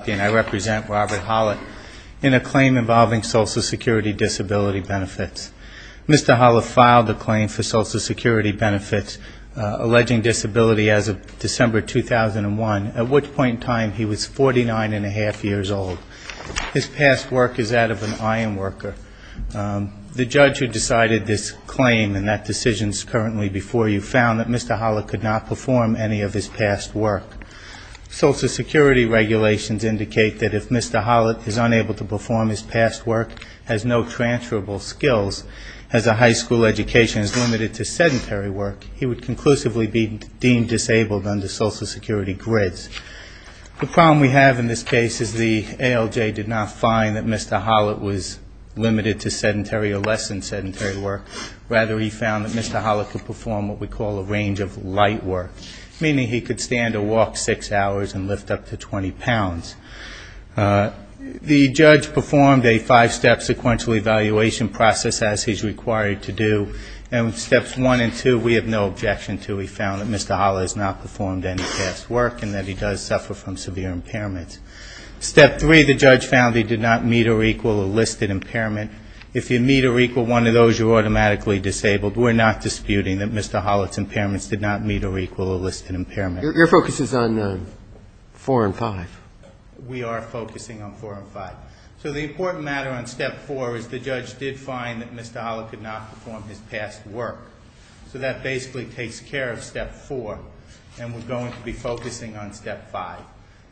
Robert Haulot in a claim involving Social Security Disability Benefits. Mr. Haulot filed the claim for Social Security Benefits, alleging disability as of December 2001, at which point in time he was 49-and-a-half years old. His past work is that of an iron worker. The judge who decided this claim, and that decision is currently before you, found that Mr. Haulot could not perform any of his past work. Social Security Regulations in the United States, indicate that if Mr. Haulot is unable to perform his past work, has no transferable skills, has a high school education, is limited to sedentary work, he would conclusively be deemed disabled under Social Security grids. The problem we have in this case is the ALJ did not find that Mr. Haulot was limited to sedentary or less than sedentary work. Rather, he found that Mr. Haulot could perform what we call a range of light work, meaning he could stand or walk six hours and lift up to 20 pounds. The judge performed a five-step sequential evaluation process, as he's required to do. And steps one and two, we have no objection to. He found that Mr. Haulot has not performed any past work and that he does suffer from severe impairments. Step three, the judge found he did not meet or equal a listed impairment. If you meet or equal one of those, you're automatically disabled. We're not disputing that Mr. Haulot's impairments did not meet or equal a listed impairment. Your focus is on four and five. We are focusing on four and five. So the important matter on step four is the judge did find that Mr. Haulot could not perform his past work. So that basically takes care of step four, and we're going to be focusing on step five.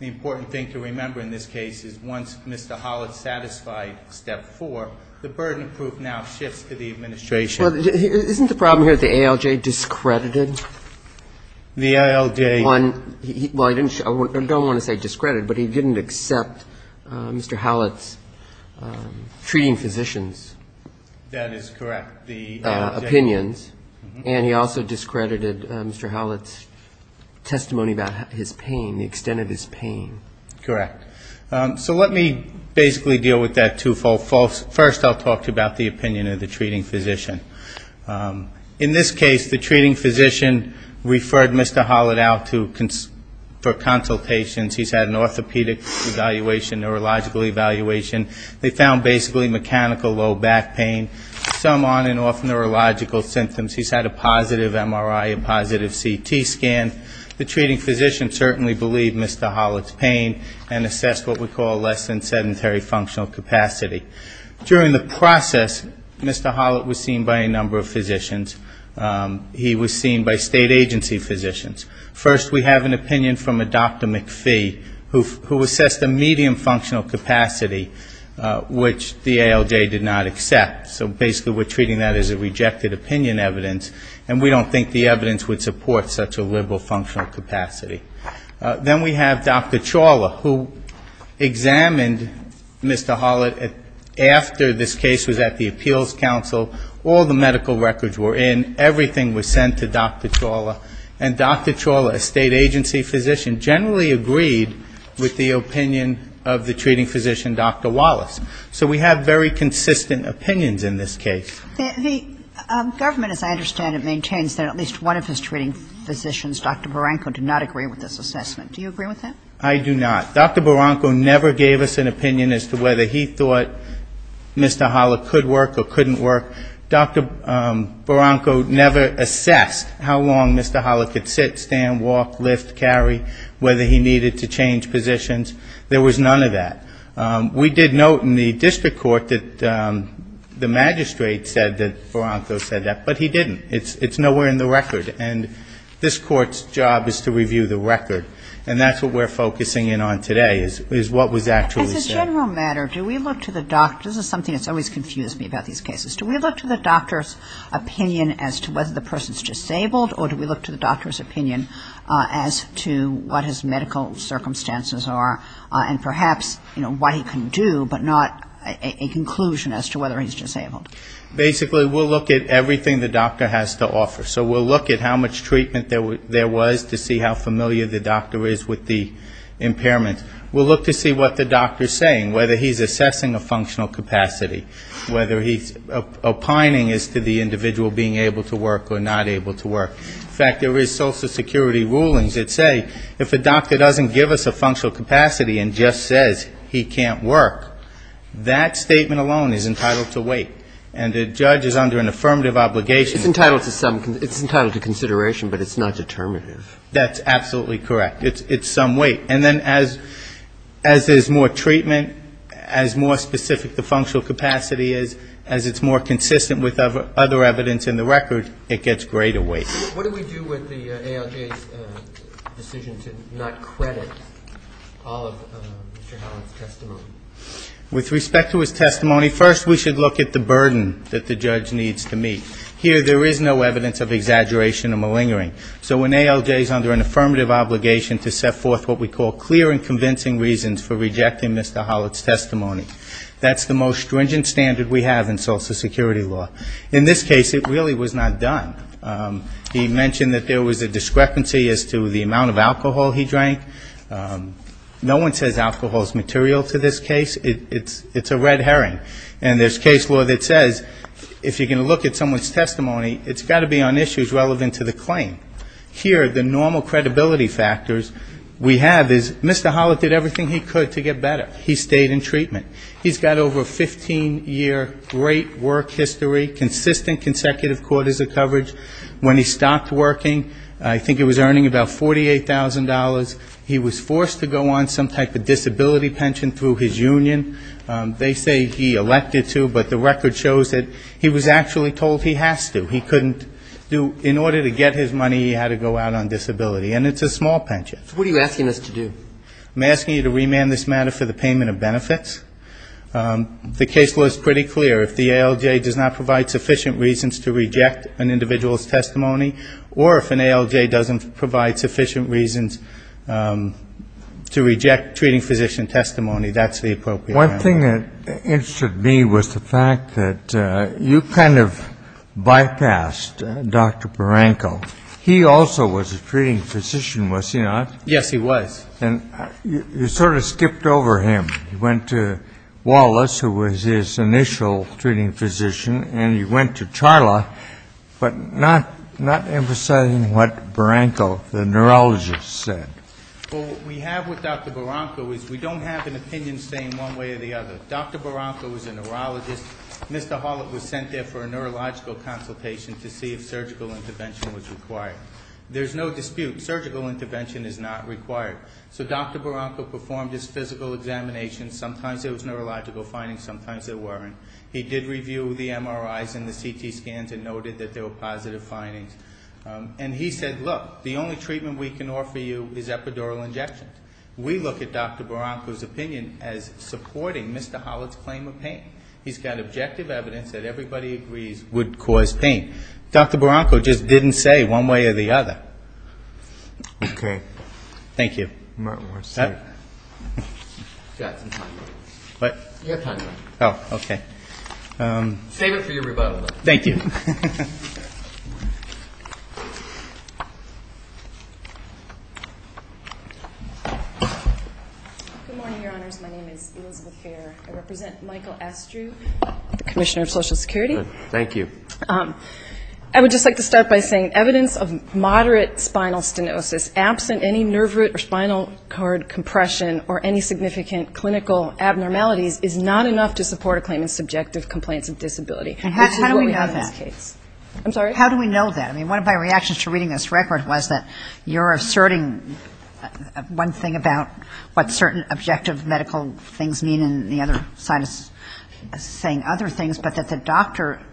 The important thing to remember in this case is once Mr. Haulot satisfied step four, the burden of proof now shifts to the administration. Isn't the problem here that the ALJ discredited? The ALJ? Well, I don't want to say discredited, but he didn't accept Mr. Haulot's treating physician's opinions. That is correct. And he also discredited Mr. Haulot's testimony about his pain, the extent of his pain. Correct. So let me basically deal with that twofold. First I'll talk to you about the opinion of the treating physician. In this case, the treating physician referred Mr. Haulot out for consultations. He's had an orthopedic evaluation, neurological evaluation. They found basically mechanical low back pain, some on and off neurological symptoms. He's had a positive MRI, a positive CT scan. The treating physician certainly believed Mr. Haulot's pain and assessed what we call less than sedentary functional capacity. During the process, Mr. Haulot was seen by a number of physicians. He was seen by state agency physicians. First we have an opinion from a Dr. McPhee, who assessed a medium functional capacity, which the ALJ did not accept. So basically we're treating that as a rejected opinion evidence, and we don't think the evidence would support such a liberal functional capacity. Then we have Dr. Chawla, who examined Mr. Haulot after this case was at the appeals council. All the medical records were in. Everything was sent to Dr. Chawla. And Dr. Chawla, a state agency physician, generally agreed with the opinion of the treating physician, Dr. Wallace. So we have very consistent opinions in this case. The government, as I understand it, maintains that at least one of his treating physicians, Dr. Barranco, did not agree with this assessment. Do you agree with that? I do not. Dr. Barranco never gave us an opinion as to whether he thought Mr. Haulot could work or couldn't work. Dr. Barranco never assessed how long Mr. Haulot could sit, stand, walk, lift, carry, whether he needed to change positions. There was none of that. We did note in the district court that the magistrate said that Barranco said that, but he didn't. It's nowhere in the record. And this court's job is to review the record. And that's what we're focusing in on today, is what was actually said. As a general matter, do we look to the doctor? This is something that's always confused me about these cases. Do we look to the doctor's opinion as to whether the person is disabled, or do we look to the doctor's opinion as to what his medical circumstances are? And perhaps, you know, what he can do, but not a conclusion as to whether he's disabled. Basically, we'll look at everything the doctor has to offer. So we'll look at how much treatment there was to see how familiar the doctor is with the impairment. We'll look to see what the doctor's saying, whether he's assessing a functional capacity, whether he's opining as to the individual being able to work or not able to work. In fact, there is Social Security rulings that say if a doctor doesn't give us a functional capacity and just says he can't work, that statement alone is entitled to weight. And the judge is under an affirmative obligation. It's entitled to consideration, but it's not determinative. That's absolutely correct. It's some weight. And then as there's more treatment, as more specific the functional capacity is, as it's more consistent with other evidence in the record, it gets greater weight. What do we do with the ALJ's decision to not credit all of Mr. Hallett's testimony? With respect to his testimony, first we should look at the burden that the judge needs to meet. Here there is no evidence of exaggeration or malingering. So when ALJ is under an affirmative obligation to set forth what we call clear and convincing reasons for rejecting Mr. Hallett's testimony, that's the most stringent standard we have in Social Security law. In this case it really was not done. He mentioned that there was a discrepancy as to the amount of alcohol he drank. No one says alcohol is material to this case. It's a red herring. And there's case law that says if you're going to look at someone's testimony, it's got to be on issues relevant to the claim. Here the normal credibility factors we have is Mr. Hallett did everything he could to get better. He stayed in treatment. He's got over a 15-year great work history, consistent consecutive quarters of coverage. When he stopped working, I think he was earning about $48,000. He was forced to go on some type of disability pension through his union. They say he elected to, but the record shows that he was actually told he has to. He couldn't do -- in order to get his money, he had to go out on disability. And it's a small pension. So what are you asking us to do? I'm asking you to remand this matter for the payment of benefits. The case law is pretty clear. If the ALJ does not provide sufficient reasons to reject an individual's testimony, or if an ALJ doesn't provide sufficient reasons to reject treating physician testimony, that's the appropriate manner. One thing that interested me was the fact that you kind of bypassed Dr. Paranko. He also was a treating physician, was he not? Yes, he was. And you sort of skipped over him. You went to Wallace, who was his initial treating physician, and you went to Charla, but not emphasizing what Paranko, the neurologist, said. Well, what we have with Dr. Paranko is we don't have an opinion saying one way or the other. Dr. Paranko is a neurologist. Mr. Hallett was sent there for a neurological consultation to see if surgical intervention was required. There's no dispute. Surgical intervention is not required. So Dr. Paranko performed his physical examination. Sometimes there was neurological findings, sometimes there weren't. He did review the MRIs and the CT scans and noted that there were positive findings. And he said, look, the only treatment we can offer you is epidural injections. We look at Dr. Paranko's opinion as supporting Mr. Hallett's claim of pain. He's got objective evidence that everybody agrees would cause pain. Dr. Paranko just didn't say one way or the other. Thank you. Thank you. Good morning, Your Honors. My name is Elizabeth Fair. I represent Michael Astrew, Commissioner of Social Security. I would just like to start by saying evidence of moderate spinal stenosis, absent any nerve root or spinal cord compression or any significant clinical abnormalities, is not enough to support a claim in subjective complaints of disability, which is what we have in this case. How do we know that? I mean, one of my reactions to reading this record was that you're asserting one thing about what certain objective medical things mean, and the other side is saying other things, but that the doctor is not saying that. And the other side is saying that the doctor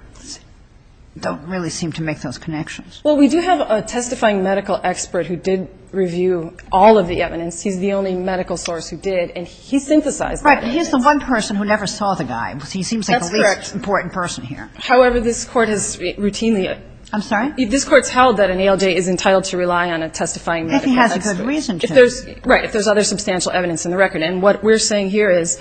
doesn't really seem to make those connections. Well, we do have a testifying medical expert who did review all of the evidence. He's the only medical source who did, and he synthesized the evidence. Right. And he's the one person who never saw the guy. He seems like the least important person here. That's correct. However, this Court has routinely ‑‑ I'm sorry? This Court's held that an ALJ is entitled to rely on a testifying medical expert. I think he has a good reason to. Right, if there's other substantial evidence in the record. And what we're saying here is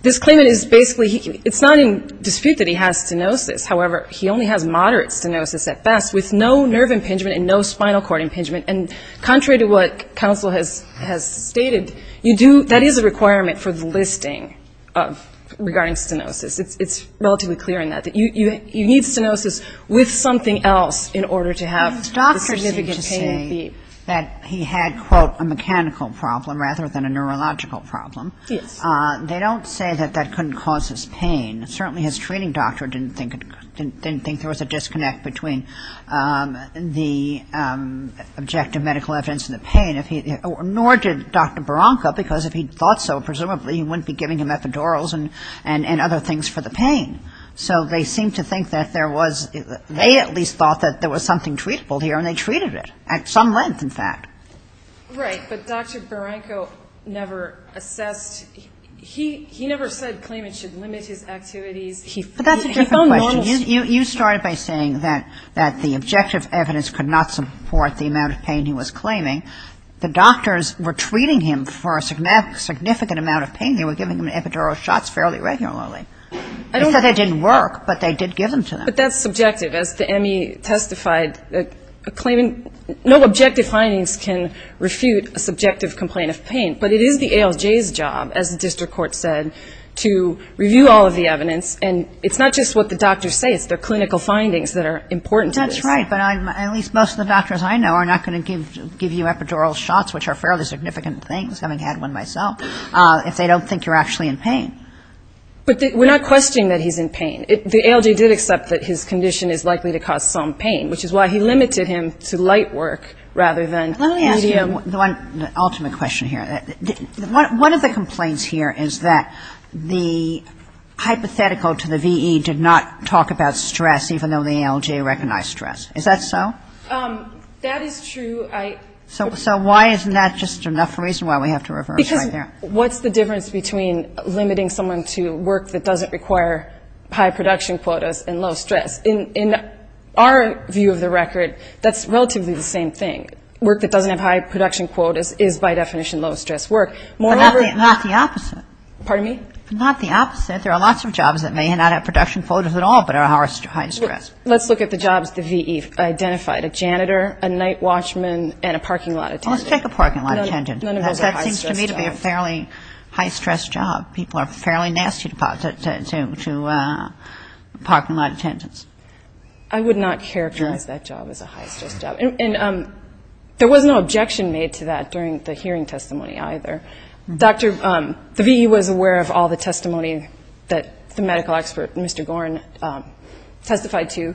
this claimant is basically ‑‑ it's not in dispute that he has stenosis. However, he only has moderate stenosis at best, with no nerve impingement and no spinal cord impingement. And contrary to what counsel has stated, you do ‑‑ that is a requirement for the listing regarding stenosis. It's relatively clear in that, that you need stenosis with something else in order to have the significant pain. I'm saying that he had, quote, a mechanical problem rather than a neurological problem. Yes. They don't say that that couldn't cause his pain. Certainly his treating doctor didn't think there was a disconnect between the objective medical evidence and the pain. Nor did Dr. Baranca, because if he thought so, presumably he wouldn't be giving him epidurals and other things for the pain. So they seem to think that there was ‑‑ they at least thought that there was something treatable here, and they treated it. At some length, in fact. Right. But Dr. Baranca never assessed ‑‑ he never said claimants should limit his activities. But that's a different question. You started by saying that the objective evidence could not support the amount of pain he was claiming. The doctors were treating him for a significant amount of pain. They were giving him epidural shots fairly regularly. They said they didn't work, but they did give them to them. But that's subjective. As the ME testified, no objective findings can refute a subjective complaint of pain. But it is the ALJ's job, as the district court said, to review all of the evidence. And it's not just what the doctors say. It's their clinical findings that are important to this. That's right. But at least most of the doctors I know are not going to give you epidural shots, which are fairly significant things, having had one myself, if they don't think you're actually in pain. But we're not questioning that he's in pain. The ALJ did accept that his condition is likely to cause some pain, which is why he limited him to light work rather than medium. Let me ask you one ultimate question here. One of the complaints here is that the hypothetical to the VE did not talk about stress, even though the ALJ recognized stress. Is that so? That is true. I think that's true. So why isn't that just enough reason why we have to reverse right there? What's the difference between limiting someone to work that doesn't require high production quotas and low stress? In our view of the record, that's relatively the same thing. Work that doesn't have high production quotas is, by definition, low stress work. But not the opposite. There are lots of jobs that may not have production quotas at all, but are high stress. Let's look at the jobs the VE identified, a janitor, a night watchman, and a parking lot attendant. Let's take a parking lot attendant. That seems to me to be a fairly high stress job. People are fairly nasty to parking lot attendants. I would not characterize that job as a high stress job. And there was no objection made to that during the hearing testimony either. The VE was aware of all the testimony that the medical expert, Mr. Gorn, testified to.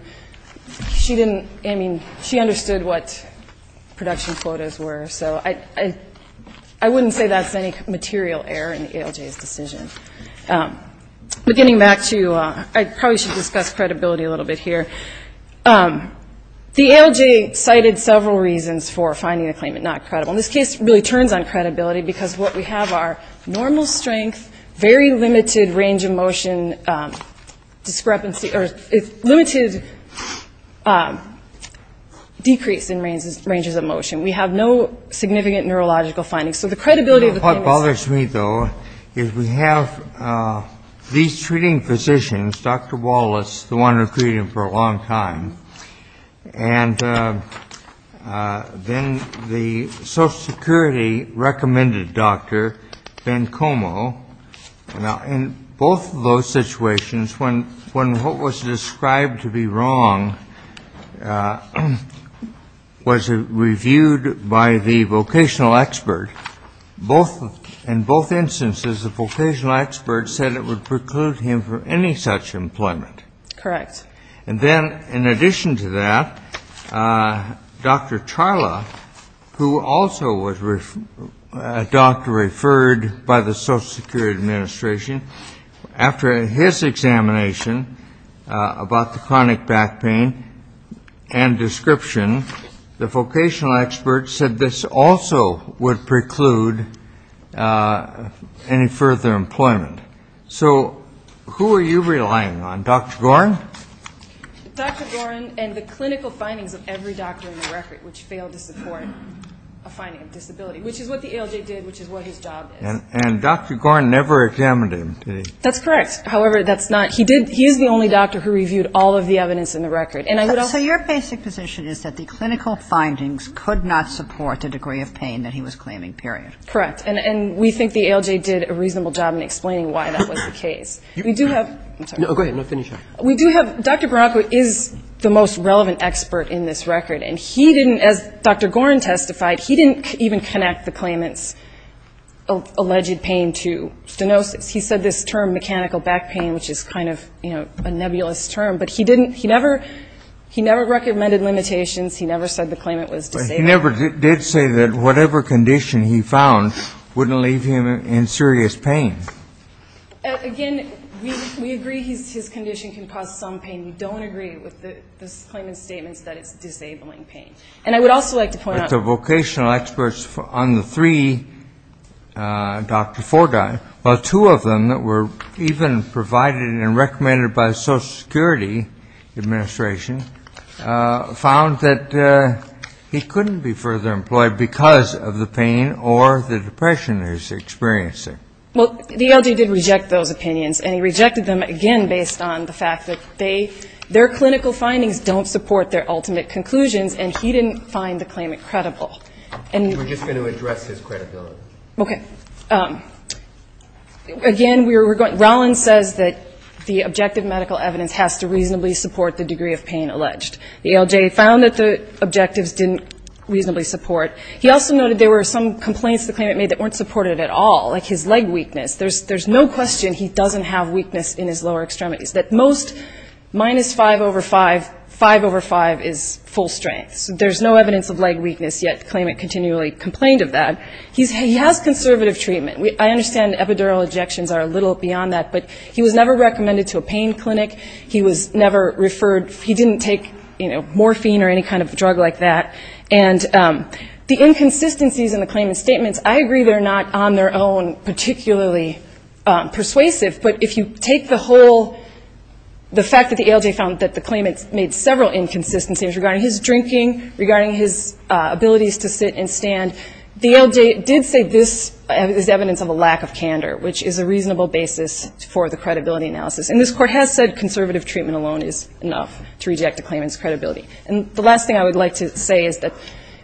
She understood what production quotas were. So I wouldn't say that's any material error in the ALJ's decision. But getting back to, I probably should discuss credibility a little bit here. The ALJ cited several reasons for finding the claimant not credible. What we have are normal strength, very limited range of motion discrepancy, or limited decrease in ranges of motion. We have no significant neurological findings. So the credibility of the claimant... What bothers me, though, is we have these treating physicians, Dr. Wallace, the one who treated him for a long time, and then the Social Security recommended Dr. Bencomo. Now, in both of those situations, when what was described to be wrong was reviewed by the vocational expert, in both instances the vocational expert said it would preclude him from any such employment. And then, in addition to that, Dr. Charla, who also was a doctor referred by the Social Security Administration, after his examination about the chronic back pain and description, the vocational expert said this also would preclude any further employment. So who are you relying on? Dr. Gorin? Dr. Gorin and the clinical findings of every doctor in the record which failed to support a finding of disability, which is what the ALJ did, which is what his job is. And Dr. Gorin never examined him, did he? That's correct. However, that's not he did. He is the only doctor who reviewed all of the evidence in the record. So your basic position is that the clinical findings could not support the degree of pain that he was claiming, period. Correct. And we think the ALJ did a reasonable job in explaining why that was the case. We do have Dr. Baracco is the most relevant expert in this record, and he didn't, as Dr. Gorin testified, he didn't even connect the claimant's alleged pain to stenosis. He said this term mechanical back pain, which is kind of a nebulous term, he never recommended limitations, he never said the claimant was disabled. But he never did say that whatever condition he found wouldn't leave him in serious pain. Again, we agree his condition can cause some pain. We don't agree with the claimant's statements that it's disabling pain. And I would also like to point out the vocational experts on the three, Dr. Fordine, two of them that were even provided and recommended by the Social Security Administration, found that he couldn't be further employed because of the pain or the depression he was experiencing. Well, the ALJ did reject those opinions, and he rejected them, again, based on the fact that their clinical findings don't support their ultimate conclusions, and he didn't find the claimant credible. And we're just going to address his credibility. Okay. Again, we were going, Rollins says that the objective medical evidence has to reasonably support the degree of pain alleged. The ALJ found that the objectives didn't reasonably support. He also noted there were some complaints the claimant made that weren't supported at all, like his leg weakness. There's no question he doesn't have weakness in his lower extremities. That most minus 5 over 5, 5 over 5 is full strength. There's no evidence of leg weakness, yet the claimant continually complained of that. He has conservative treatment. I understand epidural injections are a little beyond that, but he was never recommended to a pain clinic. He was never referred, he didn't take morphine or any kind of drug like that. And the inconsistencies in the claimant's statements, I agree they're not on their own particularly persuasive, but if you take the whole, the fact that the ALJ found that the claimant made several inconsistencies regarding his drinking, regarding his abilities to sit and stand, the ALJ did say this is evidence of a lack of candor, which is a reasonable basis for the credibility analysis. And this Court has said conservative treatment alone is enough to reject a claimant's credibility. And the last thing I would like to say is that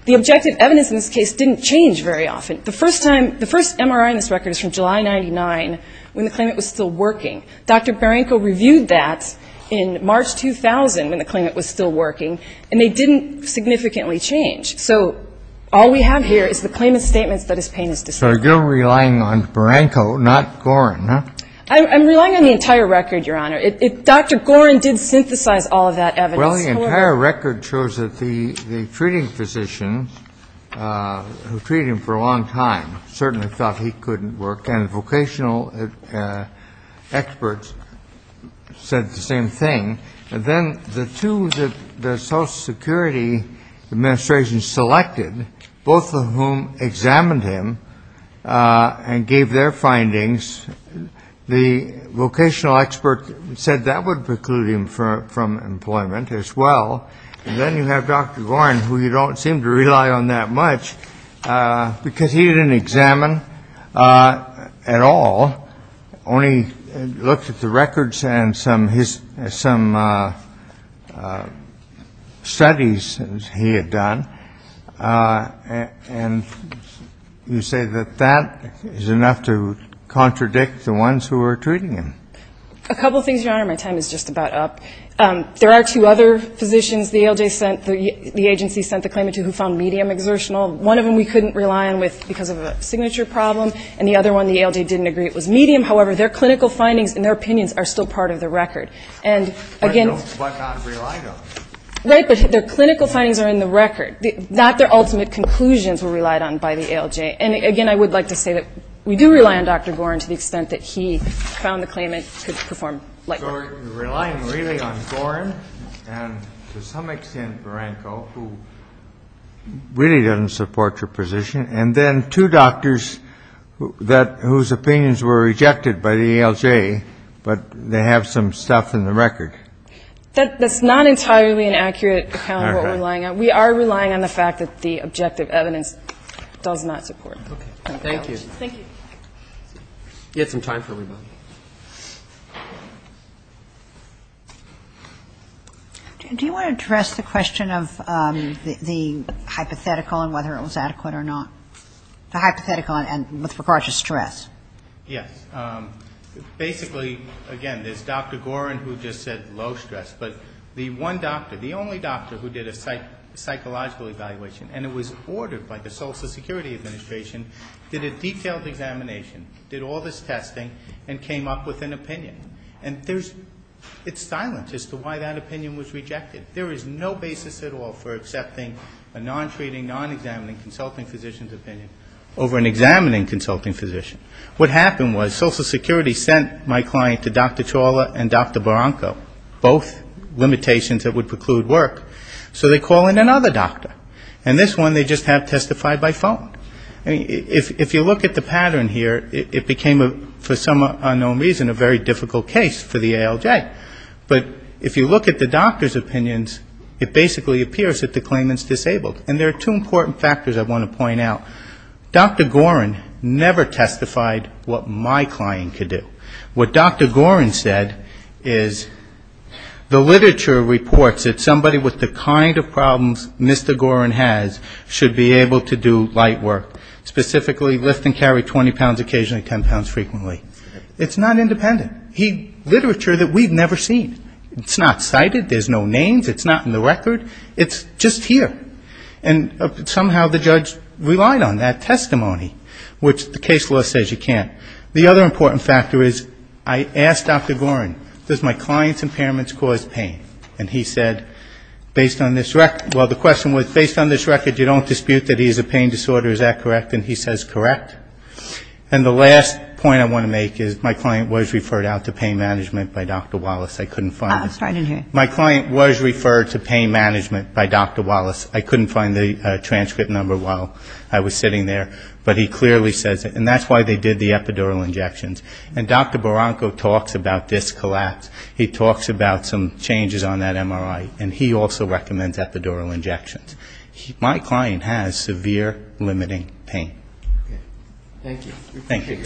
the objective evidence in this case didn't change very often. The first time, the first MRI in this record is from July 99 when the claimant was still working. Dr. Baranko reviewed that in March 2000 when the claimant was still working, and they didn't significantly change. So all we have here is the claimant's statements that his pain is distinct. So you're relying on Baranko, not Gorin, huh? I'm relying on the entire record, Your Honor. Dr. Gorin did synthesize all of that evidence. Well, the entire record shows that the treating physician who treated him for a long time certainly thought he couldn't work, and vocational experts said the same thing. And then the two that the Social Security Administration selected, both of whom examined him and gave their findings, the vocational expert said that would preclude him from employment as well. And then you have Dr. Gorin, who you don't seem to rely on that much because he didn't examine at all, only looked at the records and some studies he had done. And you say that that is enough to contradict the ones who were treating him. A couple things, Your Honor. My time is just about up. There are two other physicians the ALJ sent the agency sent the claimant to who found medium exertional. One of them we couldn't rely on because of a signature problem, and the other one the ALJ didn't agree it was medium. However, their clinical findings and their opinions are still part of the record. And again their clinical findings are in the record. Not their ultimate conclusions were relied on by the ALJ. And again, I would like to say that we do rely on Dr. Gorin to the extent that he found the claimant could perform like that. So you're relying really on Gorin and to some extent Branko, who really doesn't support your position. And then two doctors whose opinions were rejected by the ALJ, but they have some stuff in the record. That's not entirely an accurate account of what we're relying on. We are relying on the fact that the objective evidence does not support that. Thank you. Do you want to address the question of the hypothetical and whether it was adequate or not? The hypothetical and with regard to stress. Yes. Basically, again, there's Dr. Gorin who just said low stress, but the one doctor, the only doctor who did a psychological evaluation, and it was ordered by the Social Security Administration, did a detailed examination, did all this testing, and came up with an opinion. And there's, it's silent as to why that opinion was rejected. There is no basis at all for accepting a non-treating, non-examining consulting physician's opinion over an examining consulting physician. What happened was Social Security sent my client to Dr. Chawla and Dr. Branko, both limitations that would preclude work. So they call in another doctor. And this one they just have testified by phone. If you look at the pattern here, it became for some unknown reason a very difficult case for the ALJ. But if you look at the doctor's opinions, it basically appears that the claimant's disabled. And there are two important factors I want to point out. Dr. Gorin never testified what my client could do. What Dr. Gorin said is the literature reports that somebody with the kind of problems Mr. Gorin has should be able to do light work, specifically lift and carry 20 pounds, occasionally 10 pounds frequently. It's not independent. He, literature that we've never seen. It's not cited. There's no names. It's not in the record. It's just here. And somehow the judge relied on that testimony, which the case law says you can't. The other important factor is I asked Dr. Gorin, does my client's impairments cause pain? And he said, based on this record, well, the question was, based on this record, you don't dispute that he has a pain disorder. Is that correct? And he says, correct. And the last point I want to make is my client was referred out to pain management by Dr. Wallace. I couldn't find it. My client was referred to pain management by Dr. Wallace. I couldn't find the transcript number while I was sitting there. But he clearly says it. And that's why they did the epidural injections. And Dr. Barranco talks about disc collapse. He talks about some changes on that MRI. And he also recommends epidural injections. My client has severe limiting pain. Thank you. We appreciate your argument.